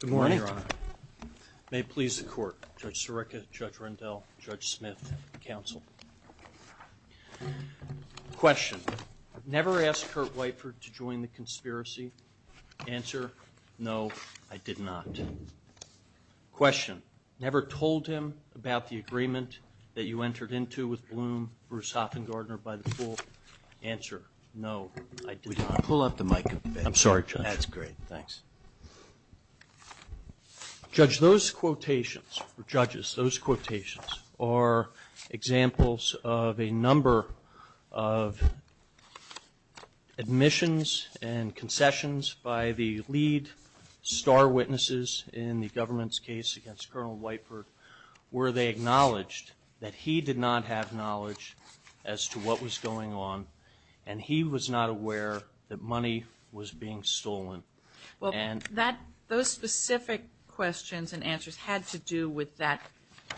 Good morning, Your Honor. May it please the Court, Judge Sirica, Judge Rendell, Judge Smith, counsel. Question. Never asked Kurt Whiteford to join the conspiracy? Answer. No, I did not. Question. Never told him about the agreement that you entered into with Bloom, Bruce Hoffengartner by the pool? Answer. No, I did not. Would you pull up the mic? I'm sorry, Judge. That's great. Thanks. Judge, those quotations, or judges, those quotations are examples of a number of admissions and concessions by the lead star witnesses in the government's case against Colonel Whiteford where they acknowledged that he did not have knowledge as to what was going on and he was not aware that money was being stolen. Well, that, those specific questions and answers had to do with that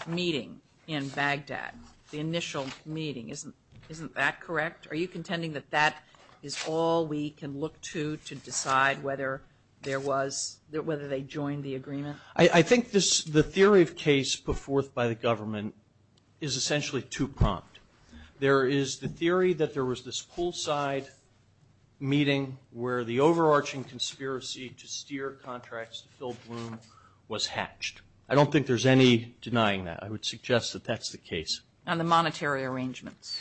meeting in Baghdad, the initial meeting. Isn't that correct? Are you contending that that is all we can look to to decide whether there was, whether they joined the agreement? I think this, the theory of case put forth by the government is essentially too prompt. There is the theory that there was this poolside meeting where the overarching conspiracy to steer contracts to fill Bloom was hatched. I don't think there's any denying that. I would suggest that that's the case. And the monetary arrangements.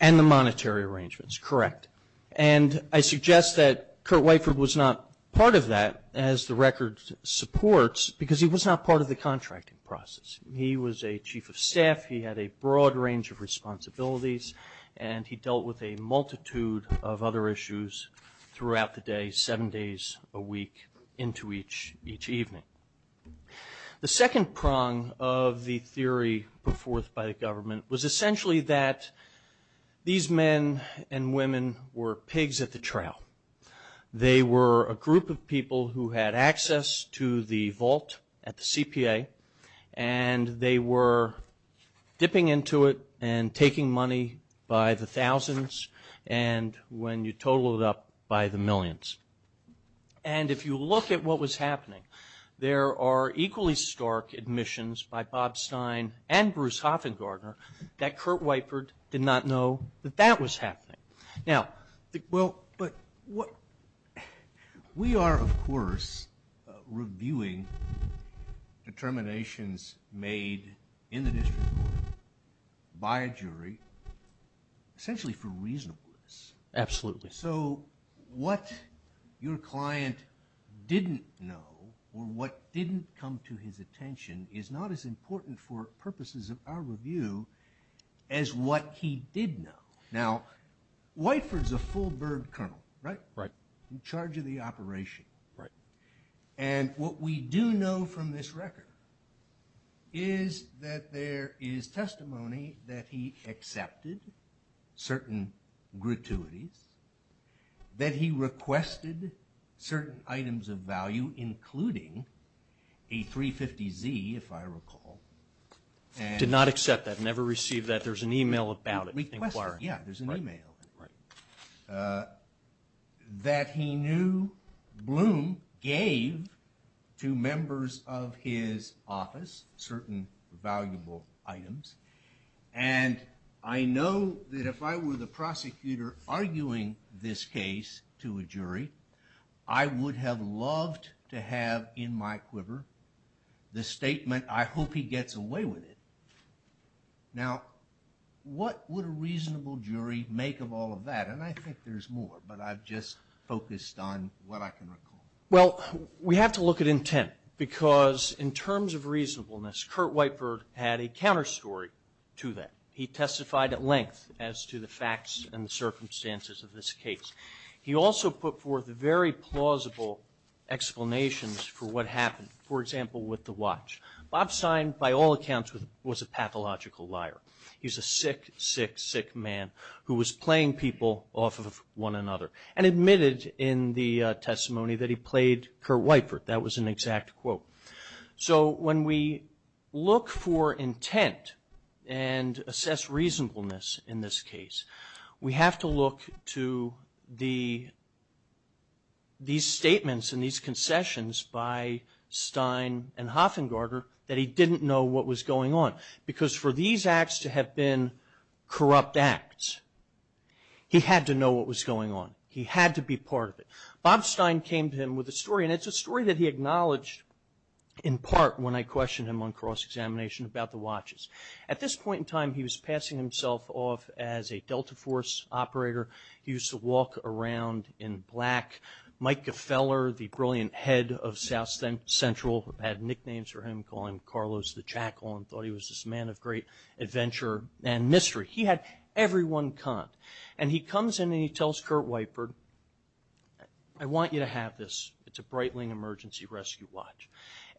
And the monetary arrangements, correct. And I suggest that Kurt Whiteford was not part of that as the record supports because he was not part of the contracting process. He was a chief of staff. He had a broad range of responsibilities and he dealt with a multitude of other issues throughout the day, seven days a week, into each evening. The second prong of the theory put forth by the government was essentially that these men and women were pigs at the trail. They were a group of people who had access to the vault at the CPA and they were dipping into it and taking money by the thousands and when you total it up by the millions. And if you look at what was happening, there are equally stark admissions by Bob Stein and Bruce Hoffengartner that Kurt Whiteford did not know that that was happening. Now, well, but what, we are of course reviewing determinations made in the district court by a jury essentially for reasonableness. Absolutely. So what your client didn't know or what didn't come to his attention is not as important for purposes of our review as what he did know. Now, Whiteford's a full bird colonel, right? Right. In charge of the operation. Right. And what we do know from this record is that there is testimony that he accepted certain gratuities, that he requested certain items of value, including a 350Z, if I recall. Did not accept that, never received that. There's an email about it. Requesting, yeah, there's an email that he knew Bloom gave to members of his office, certain valuable items, and I know that if I were the prosecutor arguing this case to a jury, I would have loved to have in my quiver the statement, I hope he gets away with it. Now, what would a reasonable jury make of all of that? And I think there's more, but I've just focused on what I can recall. Well, we have to look at intent because in terms of reasonableness, Kurt Whiteford had a counter story to that. He testified at length as to the facts and the circumstances of this case. He also put forth very plausible explanations for what happened, for example, with the watch. Bob Stein, by all accounts, was a pathological liar. He's a sick, sick, sick man who was playing people off of one another and admitted in the testimony that he played Kurt Whiteford. That was an exact quote. So when we look for intent and assess reasonableness in this case, we have to look to these statements and these concessions by Stein and Hofengarter that he didn't know what was going on because for these acts to have been corrupt acts, he had to know what was going on. He had to be part of it. Bob Stein came to him with a story, and it's a story that he acknowledged in part when I questioned him on cross-examination about the watches. At this point in time, he was passing himself off as a Delta Force operator. He used to walk around in black. Mike Gefeller, the brilliant head of South Central, had nicknames for him, calling him Carlos the Jackal and thought he was this man of great adventure and mystery. He had every one con. And he comes in and he tells Kurt Whiteford, I want you to have this. It's a Breitling emergency rescue watch.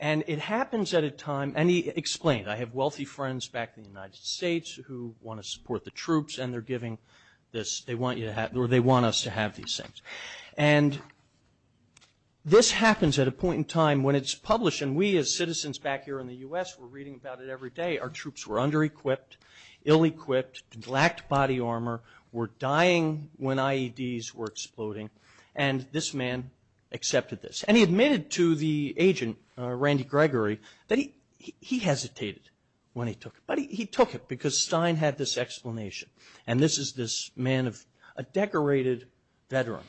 And it happens at a time, and he explained. I have wealthy friends back in the United States who want to support the troops, and they're giving this. They want us to have these things. And this happens at a point in time when it's published, and we as citizens back here in the U.S. were reading about it every day. Our troops were under-equipped, ill-equipped, lacked body armor, were dying when IEDs were exploding, and this man accepted this. And he admitted to the agent, Randy Gregory, that he hesitated when he took it. But he took it because Stein had this explanation. And this is this man of a decorated veteran,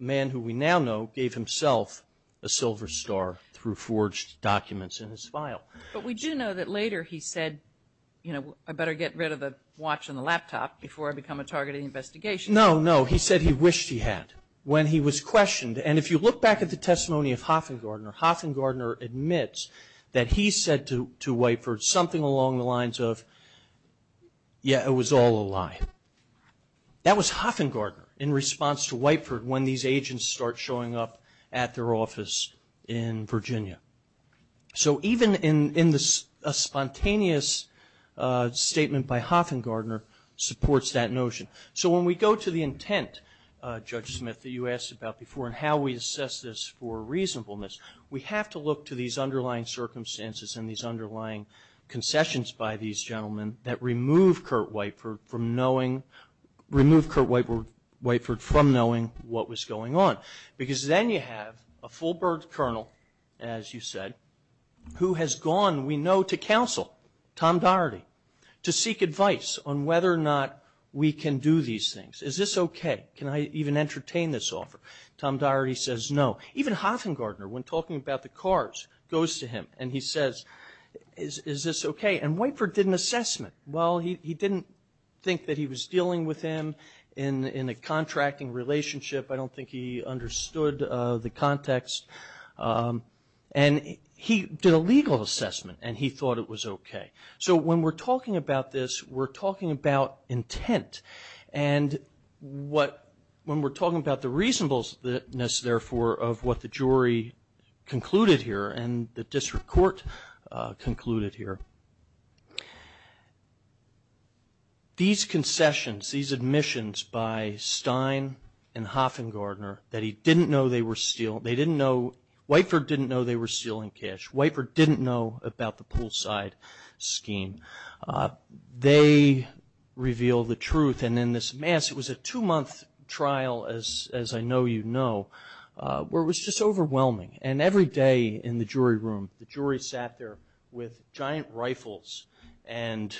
a man who we now know gave himself a silver star through forged documents in his file. But we do know that later he said, you know, I better get rid of the watch and the laptop before I become a target of the investigation. No, no. He said he wished he had when he was questioned. And if you look back at the testimony of Hoffengardner, Hoffengardner admits that he said to Whiteford something along the lines of, yeah, it was all a lie. That was Hoffengardner in response to Whiteford when these agents start showing up at their office in Virginia. So even in the spontaneous statement by Hoffengardner supports that notion. So when we go to the intent, Judge Smith, that you asked about before, and how we assess this for reasonableness, we have to look to these underlying circumstances and these underlying concessions by these gentlemen that removed Kurt Whiteford from knowing what was going on. Because then you have a full-birth colonel, as you said, who has gone, we know, to counsel Tom Doherty to seek advice on whether or not we can do these things. Is this okay? Can I even entertain this offer? Tom Doherty says no. Even Hoffengardner, when talking about the cars, goes to him and he says, is this okay? And Whiteford did an assessment. Well, he didn't think that he was dealing with him in a contracting relationship. I don't think he understood the context. And he did a legal assessment and he thought it was okay. So when we're talking about this, we're talking about intent. And when we're talking about the reasonableness, therefore, of what the jury concluded here and the district court concluded here, these concessions, these admissions by Stein and Hoffengardner that he didn't know they were stealing. They didn't know, Whiteford didn't know they were stealing cash. Whiteford didn't know about the poolside scheme. They revealed the truth. And in this mass, it was a two-month trial, as I know you know, where it was just overwhelming. And every day in the jury room, the jury sat there with giant rifles and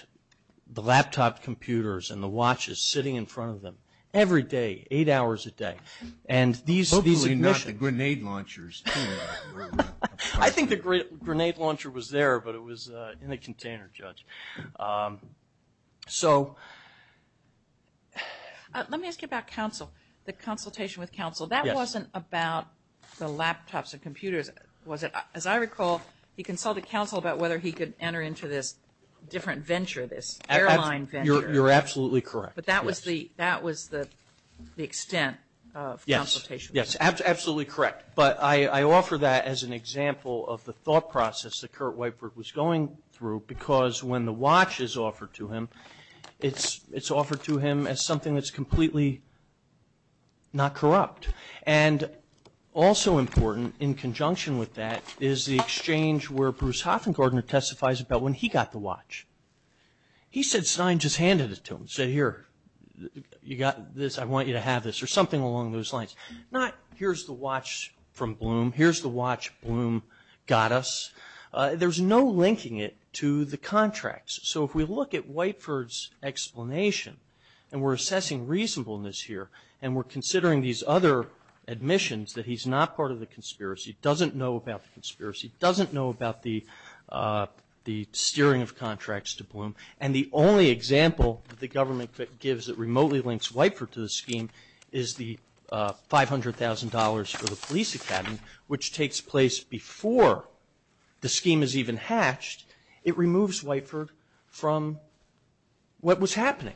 the laptop computers and the watches sitting in front of them. Every day, eight hours a day. And these admissions. Hopefully not the grenade launchers. I think the grenade launcher was there, but it was in a container, Judge. So. Let me ask you about counsel, the consultation with counsel. That wasn't about the laptops or computers, was it? As I recall, he consulted counsel about whether he could enter into this different venture, this airline venture. You're absolutely correct. But that was the extent of consultation. Yes, absolutely correct. But I offer that as an example of the thought process that Kurt Whiteford was going through, because when the watch is offered to him, it's offered to him as something that's completely not corrupt. And also important in conjunction with that is the exchange where Bruce Hoffengardner testifies about when he got the watch. He said Stein just handed it to him. Said, here, you got this. I want you to have this. Or something along those lines. Not, here's the watch from Bloom. Here's the watch Bloom got us. There's no linking it to the contracts. So if we look at Whiteford's explanation, and we're assessing reasonableness here, and we're considering these other admissions that he's not part of the conspiracy, doesn't know about the conspiracy, doesn't know about the steering of contracts to Bloom. And the only example that the government gives that remotely links Whiteford to the scheme is the $500,000 for the police academy, which takes place before the scheme is even hatched. It removes Whiteford from what was happening.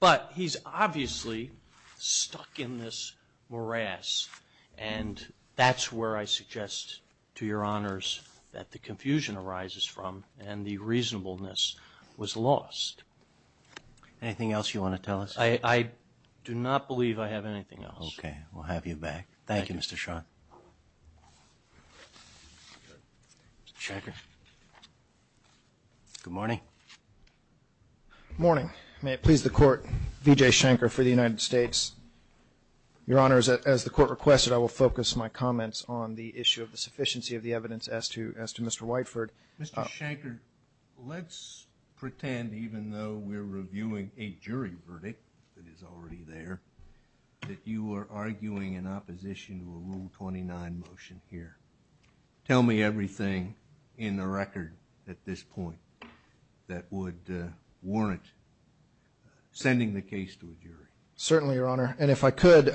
But he's obviously stuck in this morass. And that's where I suggest to your honors that the confusion arises from, and the reasonableness was lost. Anything else you want to tell us? I do not believe I have anything else. Okay. We'll have you back. Thank you, Mr. Schon. Schenker. Good morning. Morning. May it please the court, V.J. Schenker for the United States. Your honors, as the court requested, I will focus my comments on the issue of the sufficiency of the evidence as to Mr. Whiteford. Mr. Schenker, let's pretend even though we're reviewing a jury verdict that is already there, that you are arguing in opposition to a Rule 29 motion here. Tell me everything in the record at this point that would warrant sending the case to a jury. Certainly, your honor. And if I could,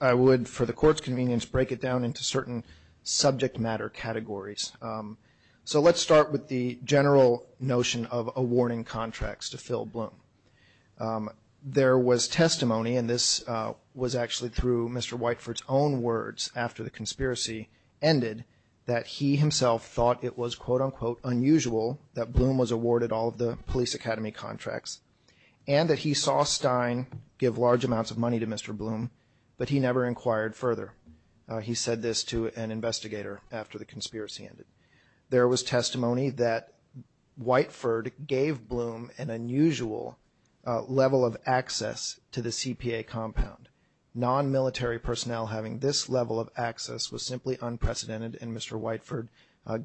I would, for the court's convenience, break it down into certain subject matter categories. So let's start with the general notion of awarding contracts to Phil Bloom. There was testimony, and this was actually through Mr. Whiteford's own words after the conspiracy ended, that he himself thought it was, quote, unquote, unusual that Bloom was awarded all of the police academy contracts. And that he saw Stein give large amounts of money to Mr. Bloom, but he never inquired further. He said this to an investigator after the conspiracy ended. There was testimony that Whiteford gave Bloom an unusual level of access to the CPA compound. Non-military personnel having this level of access was simply unprecedented, and Mr. Whiteford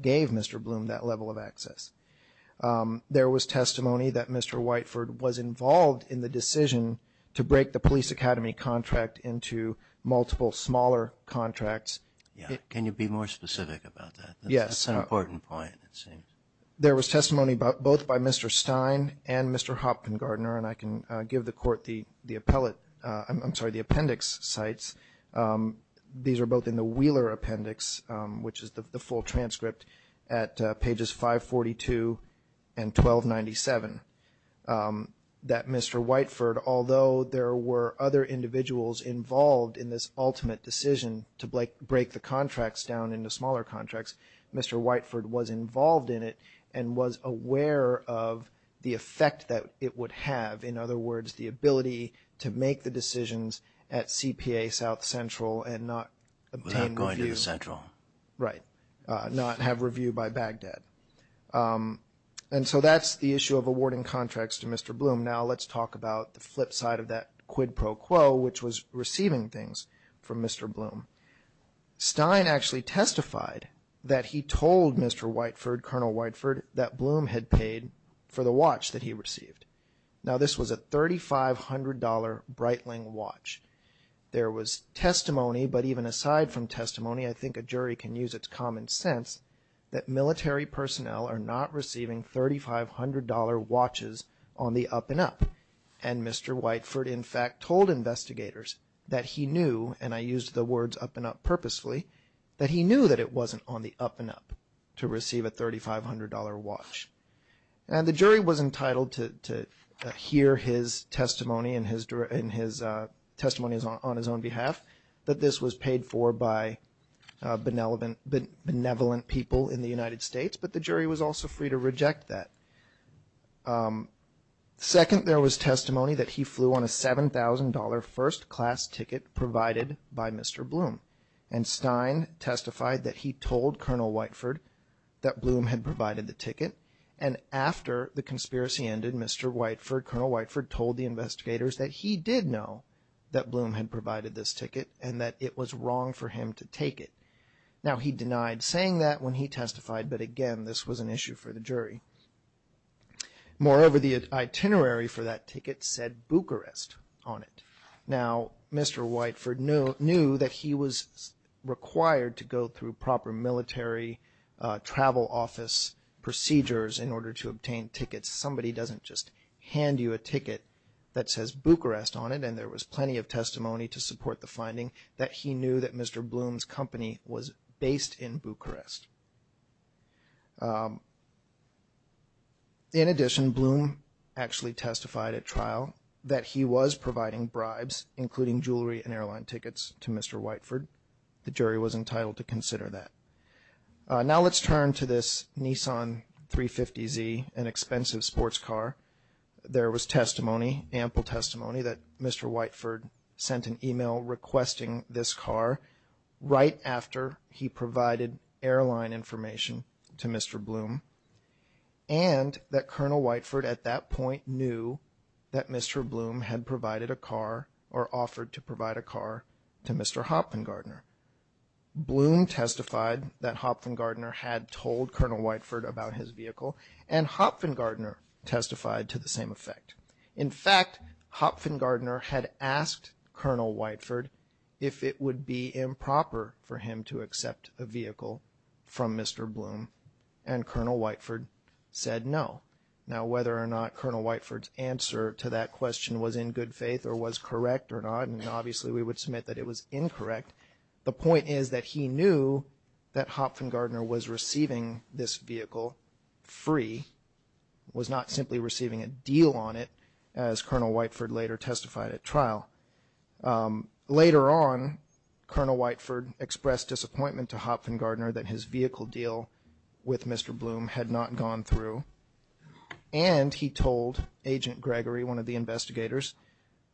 gave Mr. Bloom that level of access. There was testimony that Mr. Whiteford was involved in the decision to break the police academy contract into multiple smaller contracts. Yeah, can you be more specific about that? Yes. That's an important point, it seems. There was testimony both by Mr. Stein and Mr. Hopkin-Gardner, and I can give the court the appellate, I'm sorry, the appendix sites. These are both in the Wheeler appendix, which is the full transcript, at pages 542 and 1297. That Mr. Whiteford, although there were other individuals involved in this ultimate decision to break the contracts down into smaller contracts, Mr. Whiteford was involved in it and was aware of the effect that it would have. In other words, the ability to make the decisions at CPA South Central and not obtain reviews. Without going to the Central. Right. Not have review by Baghdad. And so that's the issue of awarding contracts to Mr. Bloom. Now let's talk about the flip side of that quid pro quo, which was receiving things from Mr. Bloom. Stein actually testified that he told Mr. Whiteford, Colonel Whiteford, that Bloom had paid for the watch that he received. Now this was a $3,500 Breitling watch. There was testimony, but even aside from testimony, I think a jury can use its common sense, that military personnel are not receiving $3,500 watches on the up and up. And Mr. Whiteford, in fact, told investigators that he knew, and I used the words up and up purposefully, that he knew that it wasn't on the up and up to receive a $3,500 watch. Now the jury was entitled to hear his testimony and his testimony on his own behalf. That this was paid for by benevolent people in the United States, but the jury was also free to reject that. Second, there was testimony that he flew on a $7,000 first class ticket provided by Mr. Bloom. And Stein testified that he told Colonel Whiteford that Bloom had provided the ticket. And after the conspiracy ended, Mr. Whiteford, Colonel Whiteford, told the investigators that he did know that Bloom had provided this ticket and that it was wrong for him to take it. Now he denied saying that when he testified, but again, this was an issue for the jury. Moreover, the itinerary for that ticket said Bucharest on it. Now, Mr. Whiteford knew that he was required to go through proper military travel office procedures in order to obtain tickets. Somebody doesn't just hand you a ticket that says Bucharest on it, and there was plenty of testimony to support the finding that he knew that Mr. Bloom's company was based in Bucharest. In addition, Bloom actually testified at trial that he was providing bribes, including jewelry and airline tickets to Mr. Whiteford. The jury was entitled to consider that. Now let's turn to this Nissan 350Z, an expensive sports car. There was testimony, ample testimony, that Mr. Whiteford sent an email requesting this car right after he provided airline information to Mr. Bloom and that Colonel Whiteford at that point knew that Mr. Bloom had provided a car or offered to provide a car to Mr. Hopfengardner. Bloom testified that Hopfengardner had told Colonel Whiteford about his vehicle and Hopfengardner testified to the same effect. In fact, Hopfengardner had asked Colonel Whiteford if it would be improper for him to accept a vehicle from Mr. Bloom and Colonel Whiteford said no. Now whether or not Colonel Whiteford's answer to that question was in good faith or was correct or not, and obviously we would submit that it was incorrect, the point is that he knew that Hopfengardner was receiving this vehicle free, was not simply receiving a deal on it, as Colonel Whiteford later testified at trial. Later on, Colonel Whiteford expressed disappointment to Hopfengardner that his vehicle deal with Mr. Bloom had not gone through and he told Agent Gregory, one of the investigators,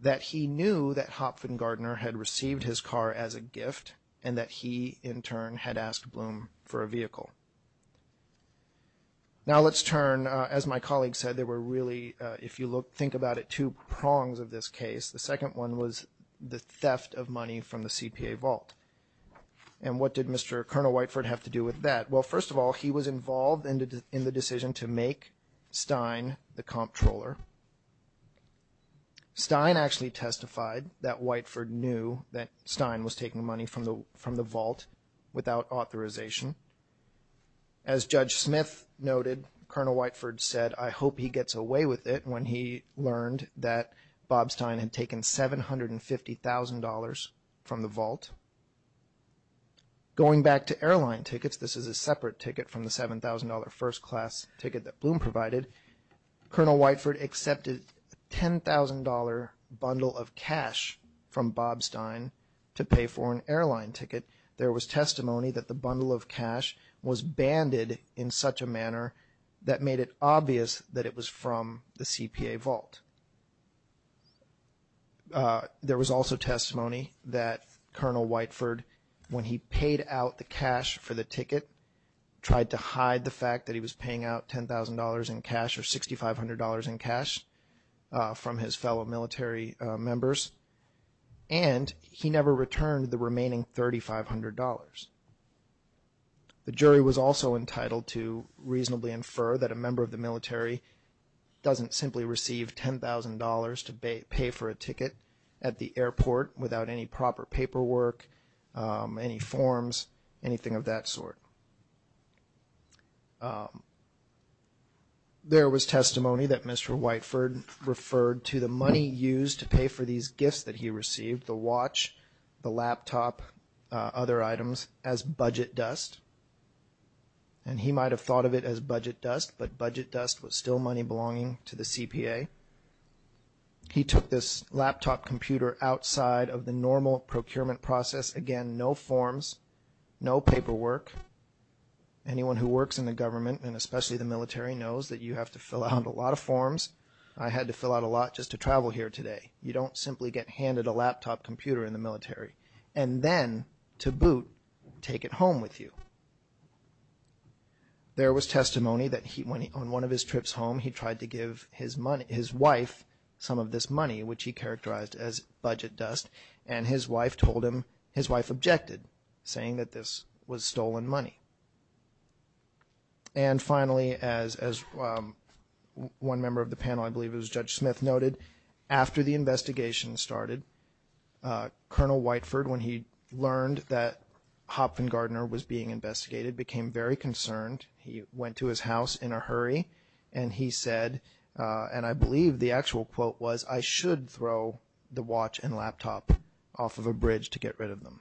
that he knew that Hopfengardner had received his car as a gift and that he, in turn, had asked Bloom for a vehicle. Now let's turn, as my colleague said, there were really, if you think about it, two prongs of this case. The second one was the theft of money from the CPA vault. And what did Mr. Colonel Whiteford have to do with that? Well, first of all, he was involved in the decision to make Stein the comptroller. Stein actually testified that Whiteford knew that Stein was taking money from the vault without authorization. As Judge Smith noted, Colonel Whiteford said, I hope he gets away with it when he learned that Bob Stein had taken $750,000 from the vault. Going back to airline tickets, this is a separate ticket from the $7,000 first class ticket that Bloom provided. Colonel Whiteford accepted a $10,000 bundle of cash from Bob Stein to pay for an airline ticket. There was testimony that the bundle of cash was banded in such a manner that made it obvious that it was from the CPA vault. There was also testimony that Colonel Whiteford, when he paid out the cash for the ticket, tried to hide the fact that he was paying out $10,000 in cash or $6,500 in cash from his fellow military members, and he never returned the remaining $3,500. The jury was also entitled to reasonably infer that a member of the military doesn't simply receive $10,000 to pay for a ticket at the airport without any proper paperwork, any forms, anything of that sort. There was testimony that Mr. Whiteford referred to the money used to pay for these gifts that he received, the watch, the laptop, other items, as budget dust. And he might have thought of it as budget dust, but budget dust was still money belonging to the CPA. He took this laptop computer outside of the normal procurement process. Again, no forms, no paperwork. Anyone who works in the government, and especially the military, knows that you have to fill out a lot of forms. I had to fill out a lot just to travel here today. You don't simply get handed a laptop computer in the military and then, to boot, take it home with you. There was testimony that on one of his trips home, he tried to give his wife some of this saying that this was stolen money. And finally, as one member of the panel, I believe it was Judge Smith, noted, after the investigation started, Colonel Whiteford, when he learned that Hopfengardner was being investigated, became very concerned. He went to his house in a hurry, and he said, and I believe the actual quote was, I should throw the watch and laptop off of a bridge to get rid of them.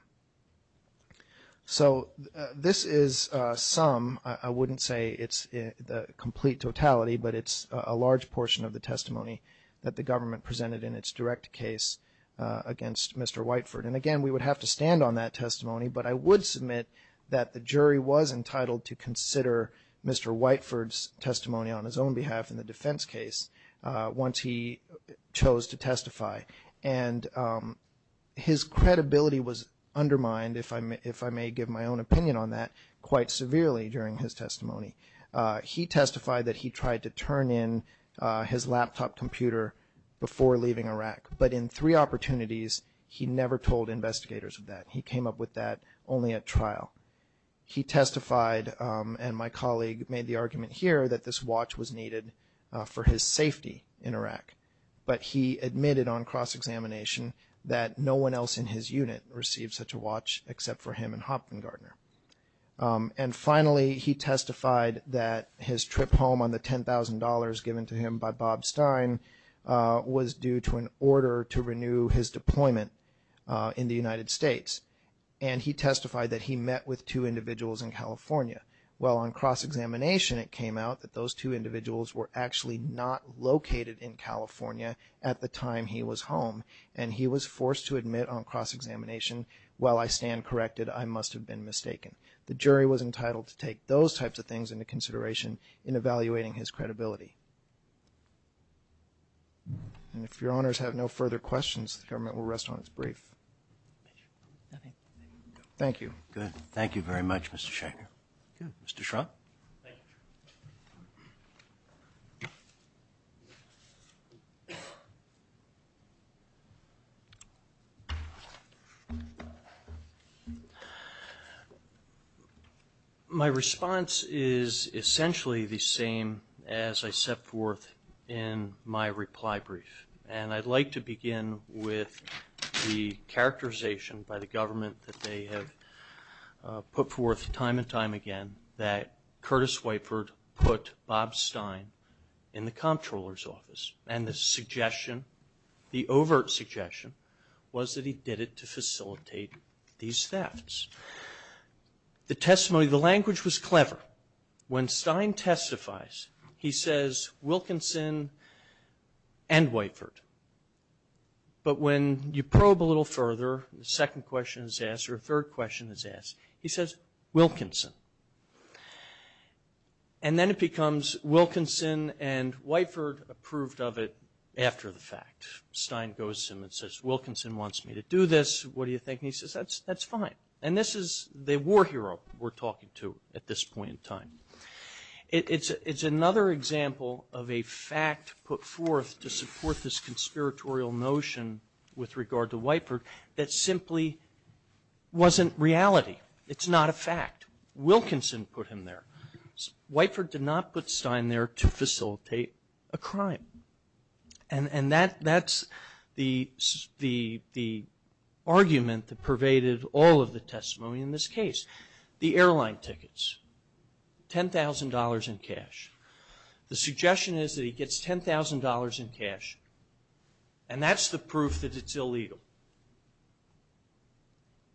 So this is some, I wouldn't say it's the complete totality, but it's a large portion of the testimony that the government presented in its direct case against Mr. Whiteford. And again, we would have to stand on that testimony, but I would submit that the jury was entitled to consider Mr. Whiteford's testimony on his own behalf in the defense case once he chose to testify. And his credibility was undermined, if I may give my own opinion on that, quite severely during his testimony. He testified that he tried to turn in his laptop computer before leaving Iraq, but in three opportunities, he never told investigators of that. He came up with that only at trial. He testified, and my colleague made the argument here, that this watch was needed for his safety in Iraq. But he admitted on cross-examination that no one else in his unit received such a watch except for him and Hopfengardner. And finally, he testified that his trip home on the $10,000 given to him by Bob Stein was due to an order to renew his deployment in the United States. And he testified that he met with two individuals in California. Well, on cross-examination, it came out that those two individuals were actually not located in California at the time he was home, and he was forced to admit on cross-examination, while I stand corrected, I must have been mistaken. The jury was entitled to take those And if your honors have no further questions, the government will rest on its brief. Thank you. Good. Thank you very much, Mr. Schechter. Good. Mr. Schrock? Thank you. My response is essentially the same as I set forth in my reply brief. And I'd like to begin with the characterization by the government that they have put forth time and time again that Curtis Whiteford put Bob Stein in the comptroller's office. And the suggestion, the overt suggestion, was that he did it to facilitate these thefts. The testimony, the language was clever. When Stein testifies, he says, Wilkinson and Whiteford. But when you probe a little further, the second question is asked, or a third question is asked, he says, Wilkinson. And then it becomes Wilkinson and Whiteford approved of it after the fact. Stein goes to him and says, Wilkinson wants me to do this. What do you think? And he says, that's fine. And this is the war hero we're talking to at this point in time. It's another example of a fact put forth to support this conspiratorial notion with regard to Whiteford that simply wasn't reality. It's not a fact. Wilkinson put him there. Whiteford did not put Stein there to facilitate a crime. And that's the argument that pervaded all of the testimony in this case. The airline tickets, $10,000 in cash. The suggestion is that gets $10,000 in cash. And that's the proof that it's illegal.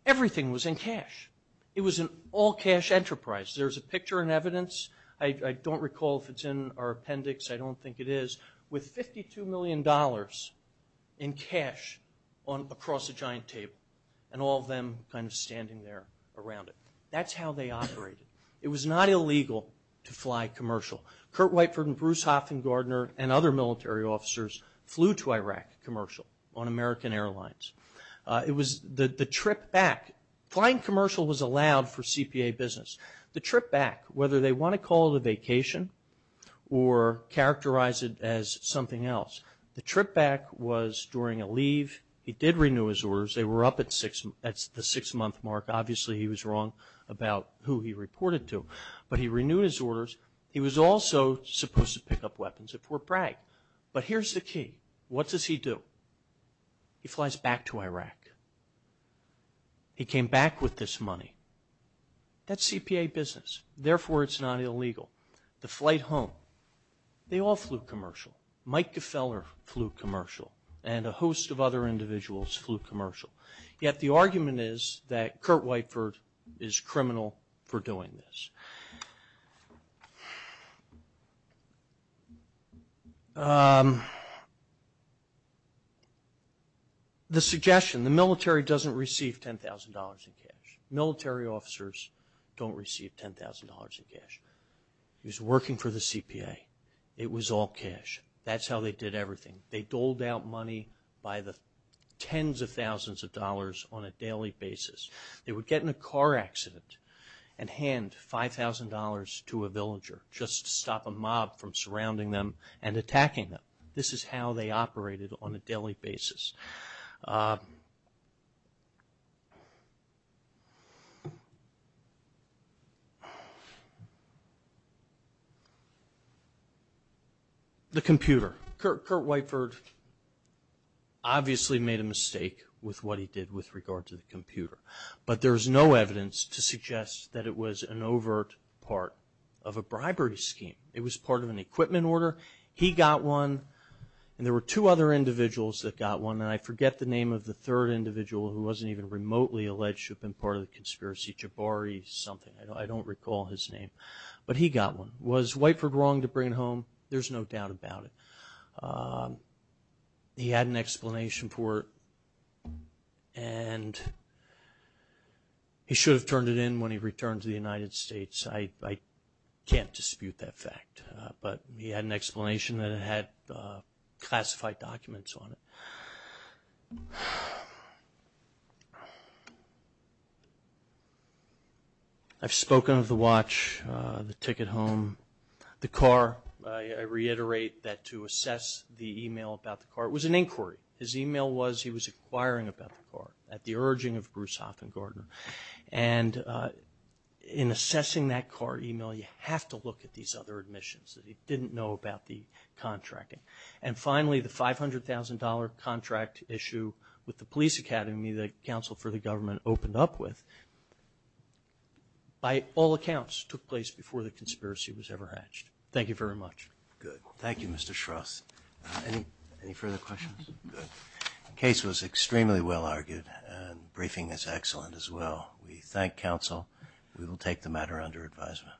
Everything was in cash. It was an all-cash enterprise. There's a picture in evidence. I don't recall if it's in our appendix. I don't think it is. With $52 million in cash across a giant table and all of them kind of standing there around it. That's how they operated. It was not illegal to fly commercial. Kurt Whiteford and Bruce Hoffman Gardner and other military officers flew to Iraq commercial on American Airlines. It was the trip back. Flying commercial was allowed for CPA business. The trip back, whether they want to call it a vacation or characterize it as something else. The trip back was during a leave. He did renew his orders. They were up at the six-month mark. Obviously, he was wrong about who he reported to. But he renewed his orders. He was also supposed to pick up weapons at Fort Bragg. But here's the key. What does he do? He flies back to Iraq. He came back with this money. That's CPA business. Therefore, it's not illegal. The flight home, they all flew commercial. Mike Gefeller flew commercial and a host of other individuals flew commercial. Yet, the argument is that Kurt Whiteford is criminal for doing this. The suggestion, the military doesn't receive $10,000 in cash. Military officers don't receive $10,000 in cash. He was working for the CPA. It was all cash. That's how they did everything. They doled out money by the tens of thousands of dollars on a daily basis. They would get in a car accident and hand $5,000 to a villager just to stop a mob from surrounding them and attacking them. This is how they operated on a daily basis. The computer. Kurt Whiteford obviously made a mistake with what he did with regard to the computer. But there's no evidence to suggest that it was an overt part of a bribery scheme. It was part of an equipment order. He got one and there were two other individuals that got one. I forget the name of the third individual who wasn't even remotely alleged to have been part of the conspiracy. Jabari something. I don't recall his name. But he got one. Was Whiteford wrong to bring it home? There's no doubt about it. He had an explanation for it and he should have turned it in when he returned to the United States. I can't dispute that fact. But he had an explanation that it had classified documents on it. I've spoken of the watch, the ticket home, the car. I reiterate that to assess the email about the car, it was an inquiry. His email was he was inquiring about the car at the urging of Broussard and Gardner. And in assessing that car email, you have to look at these other admissions that he didn't know about the contracting. And finally, the $500,000 contract issue with the police academy that counsel for the government opened up with, by all accounts, took place before the conspiracy was ever hatched. Thank you very much. Good. Thank you, Mr. Shroth. Any further questions? Good. The case was extremely well argued and briefing is excellent as well. We thank counsel. We will take the matter under advisement.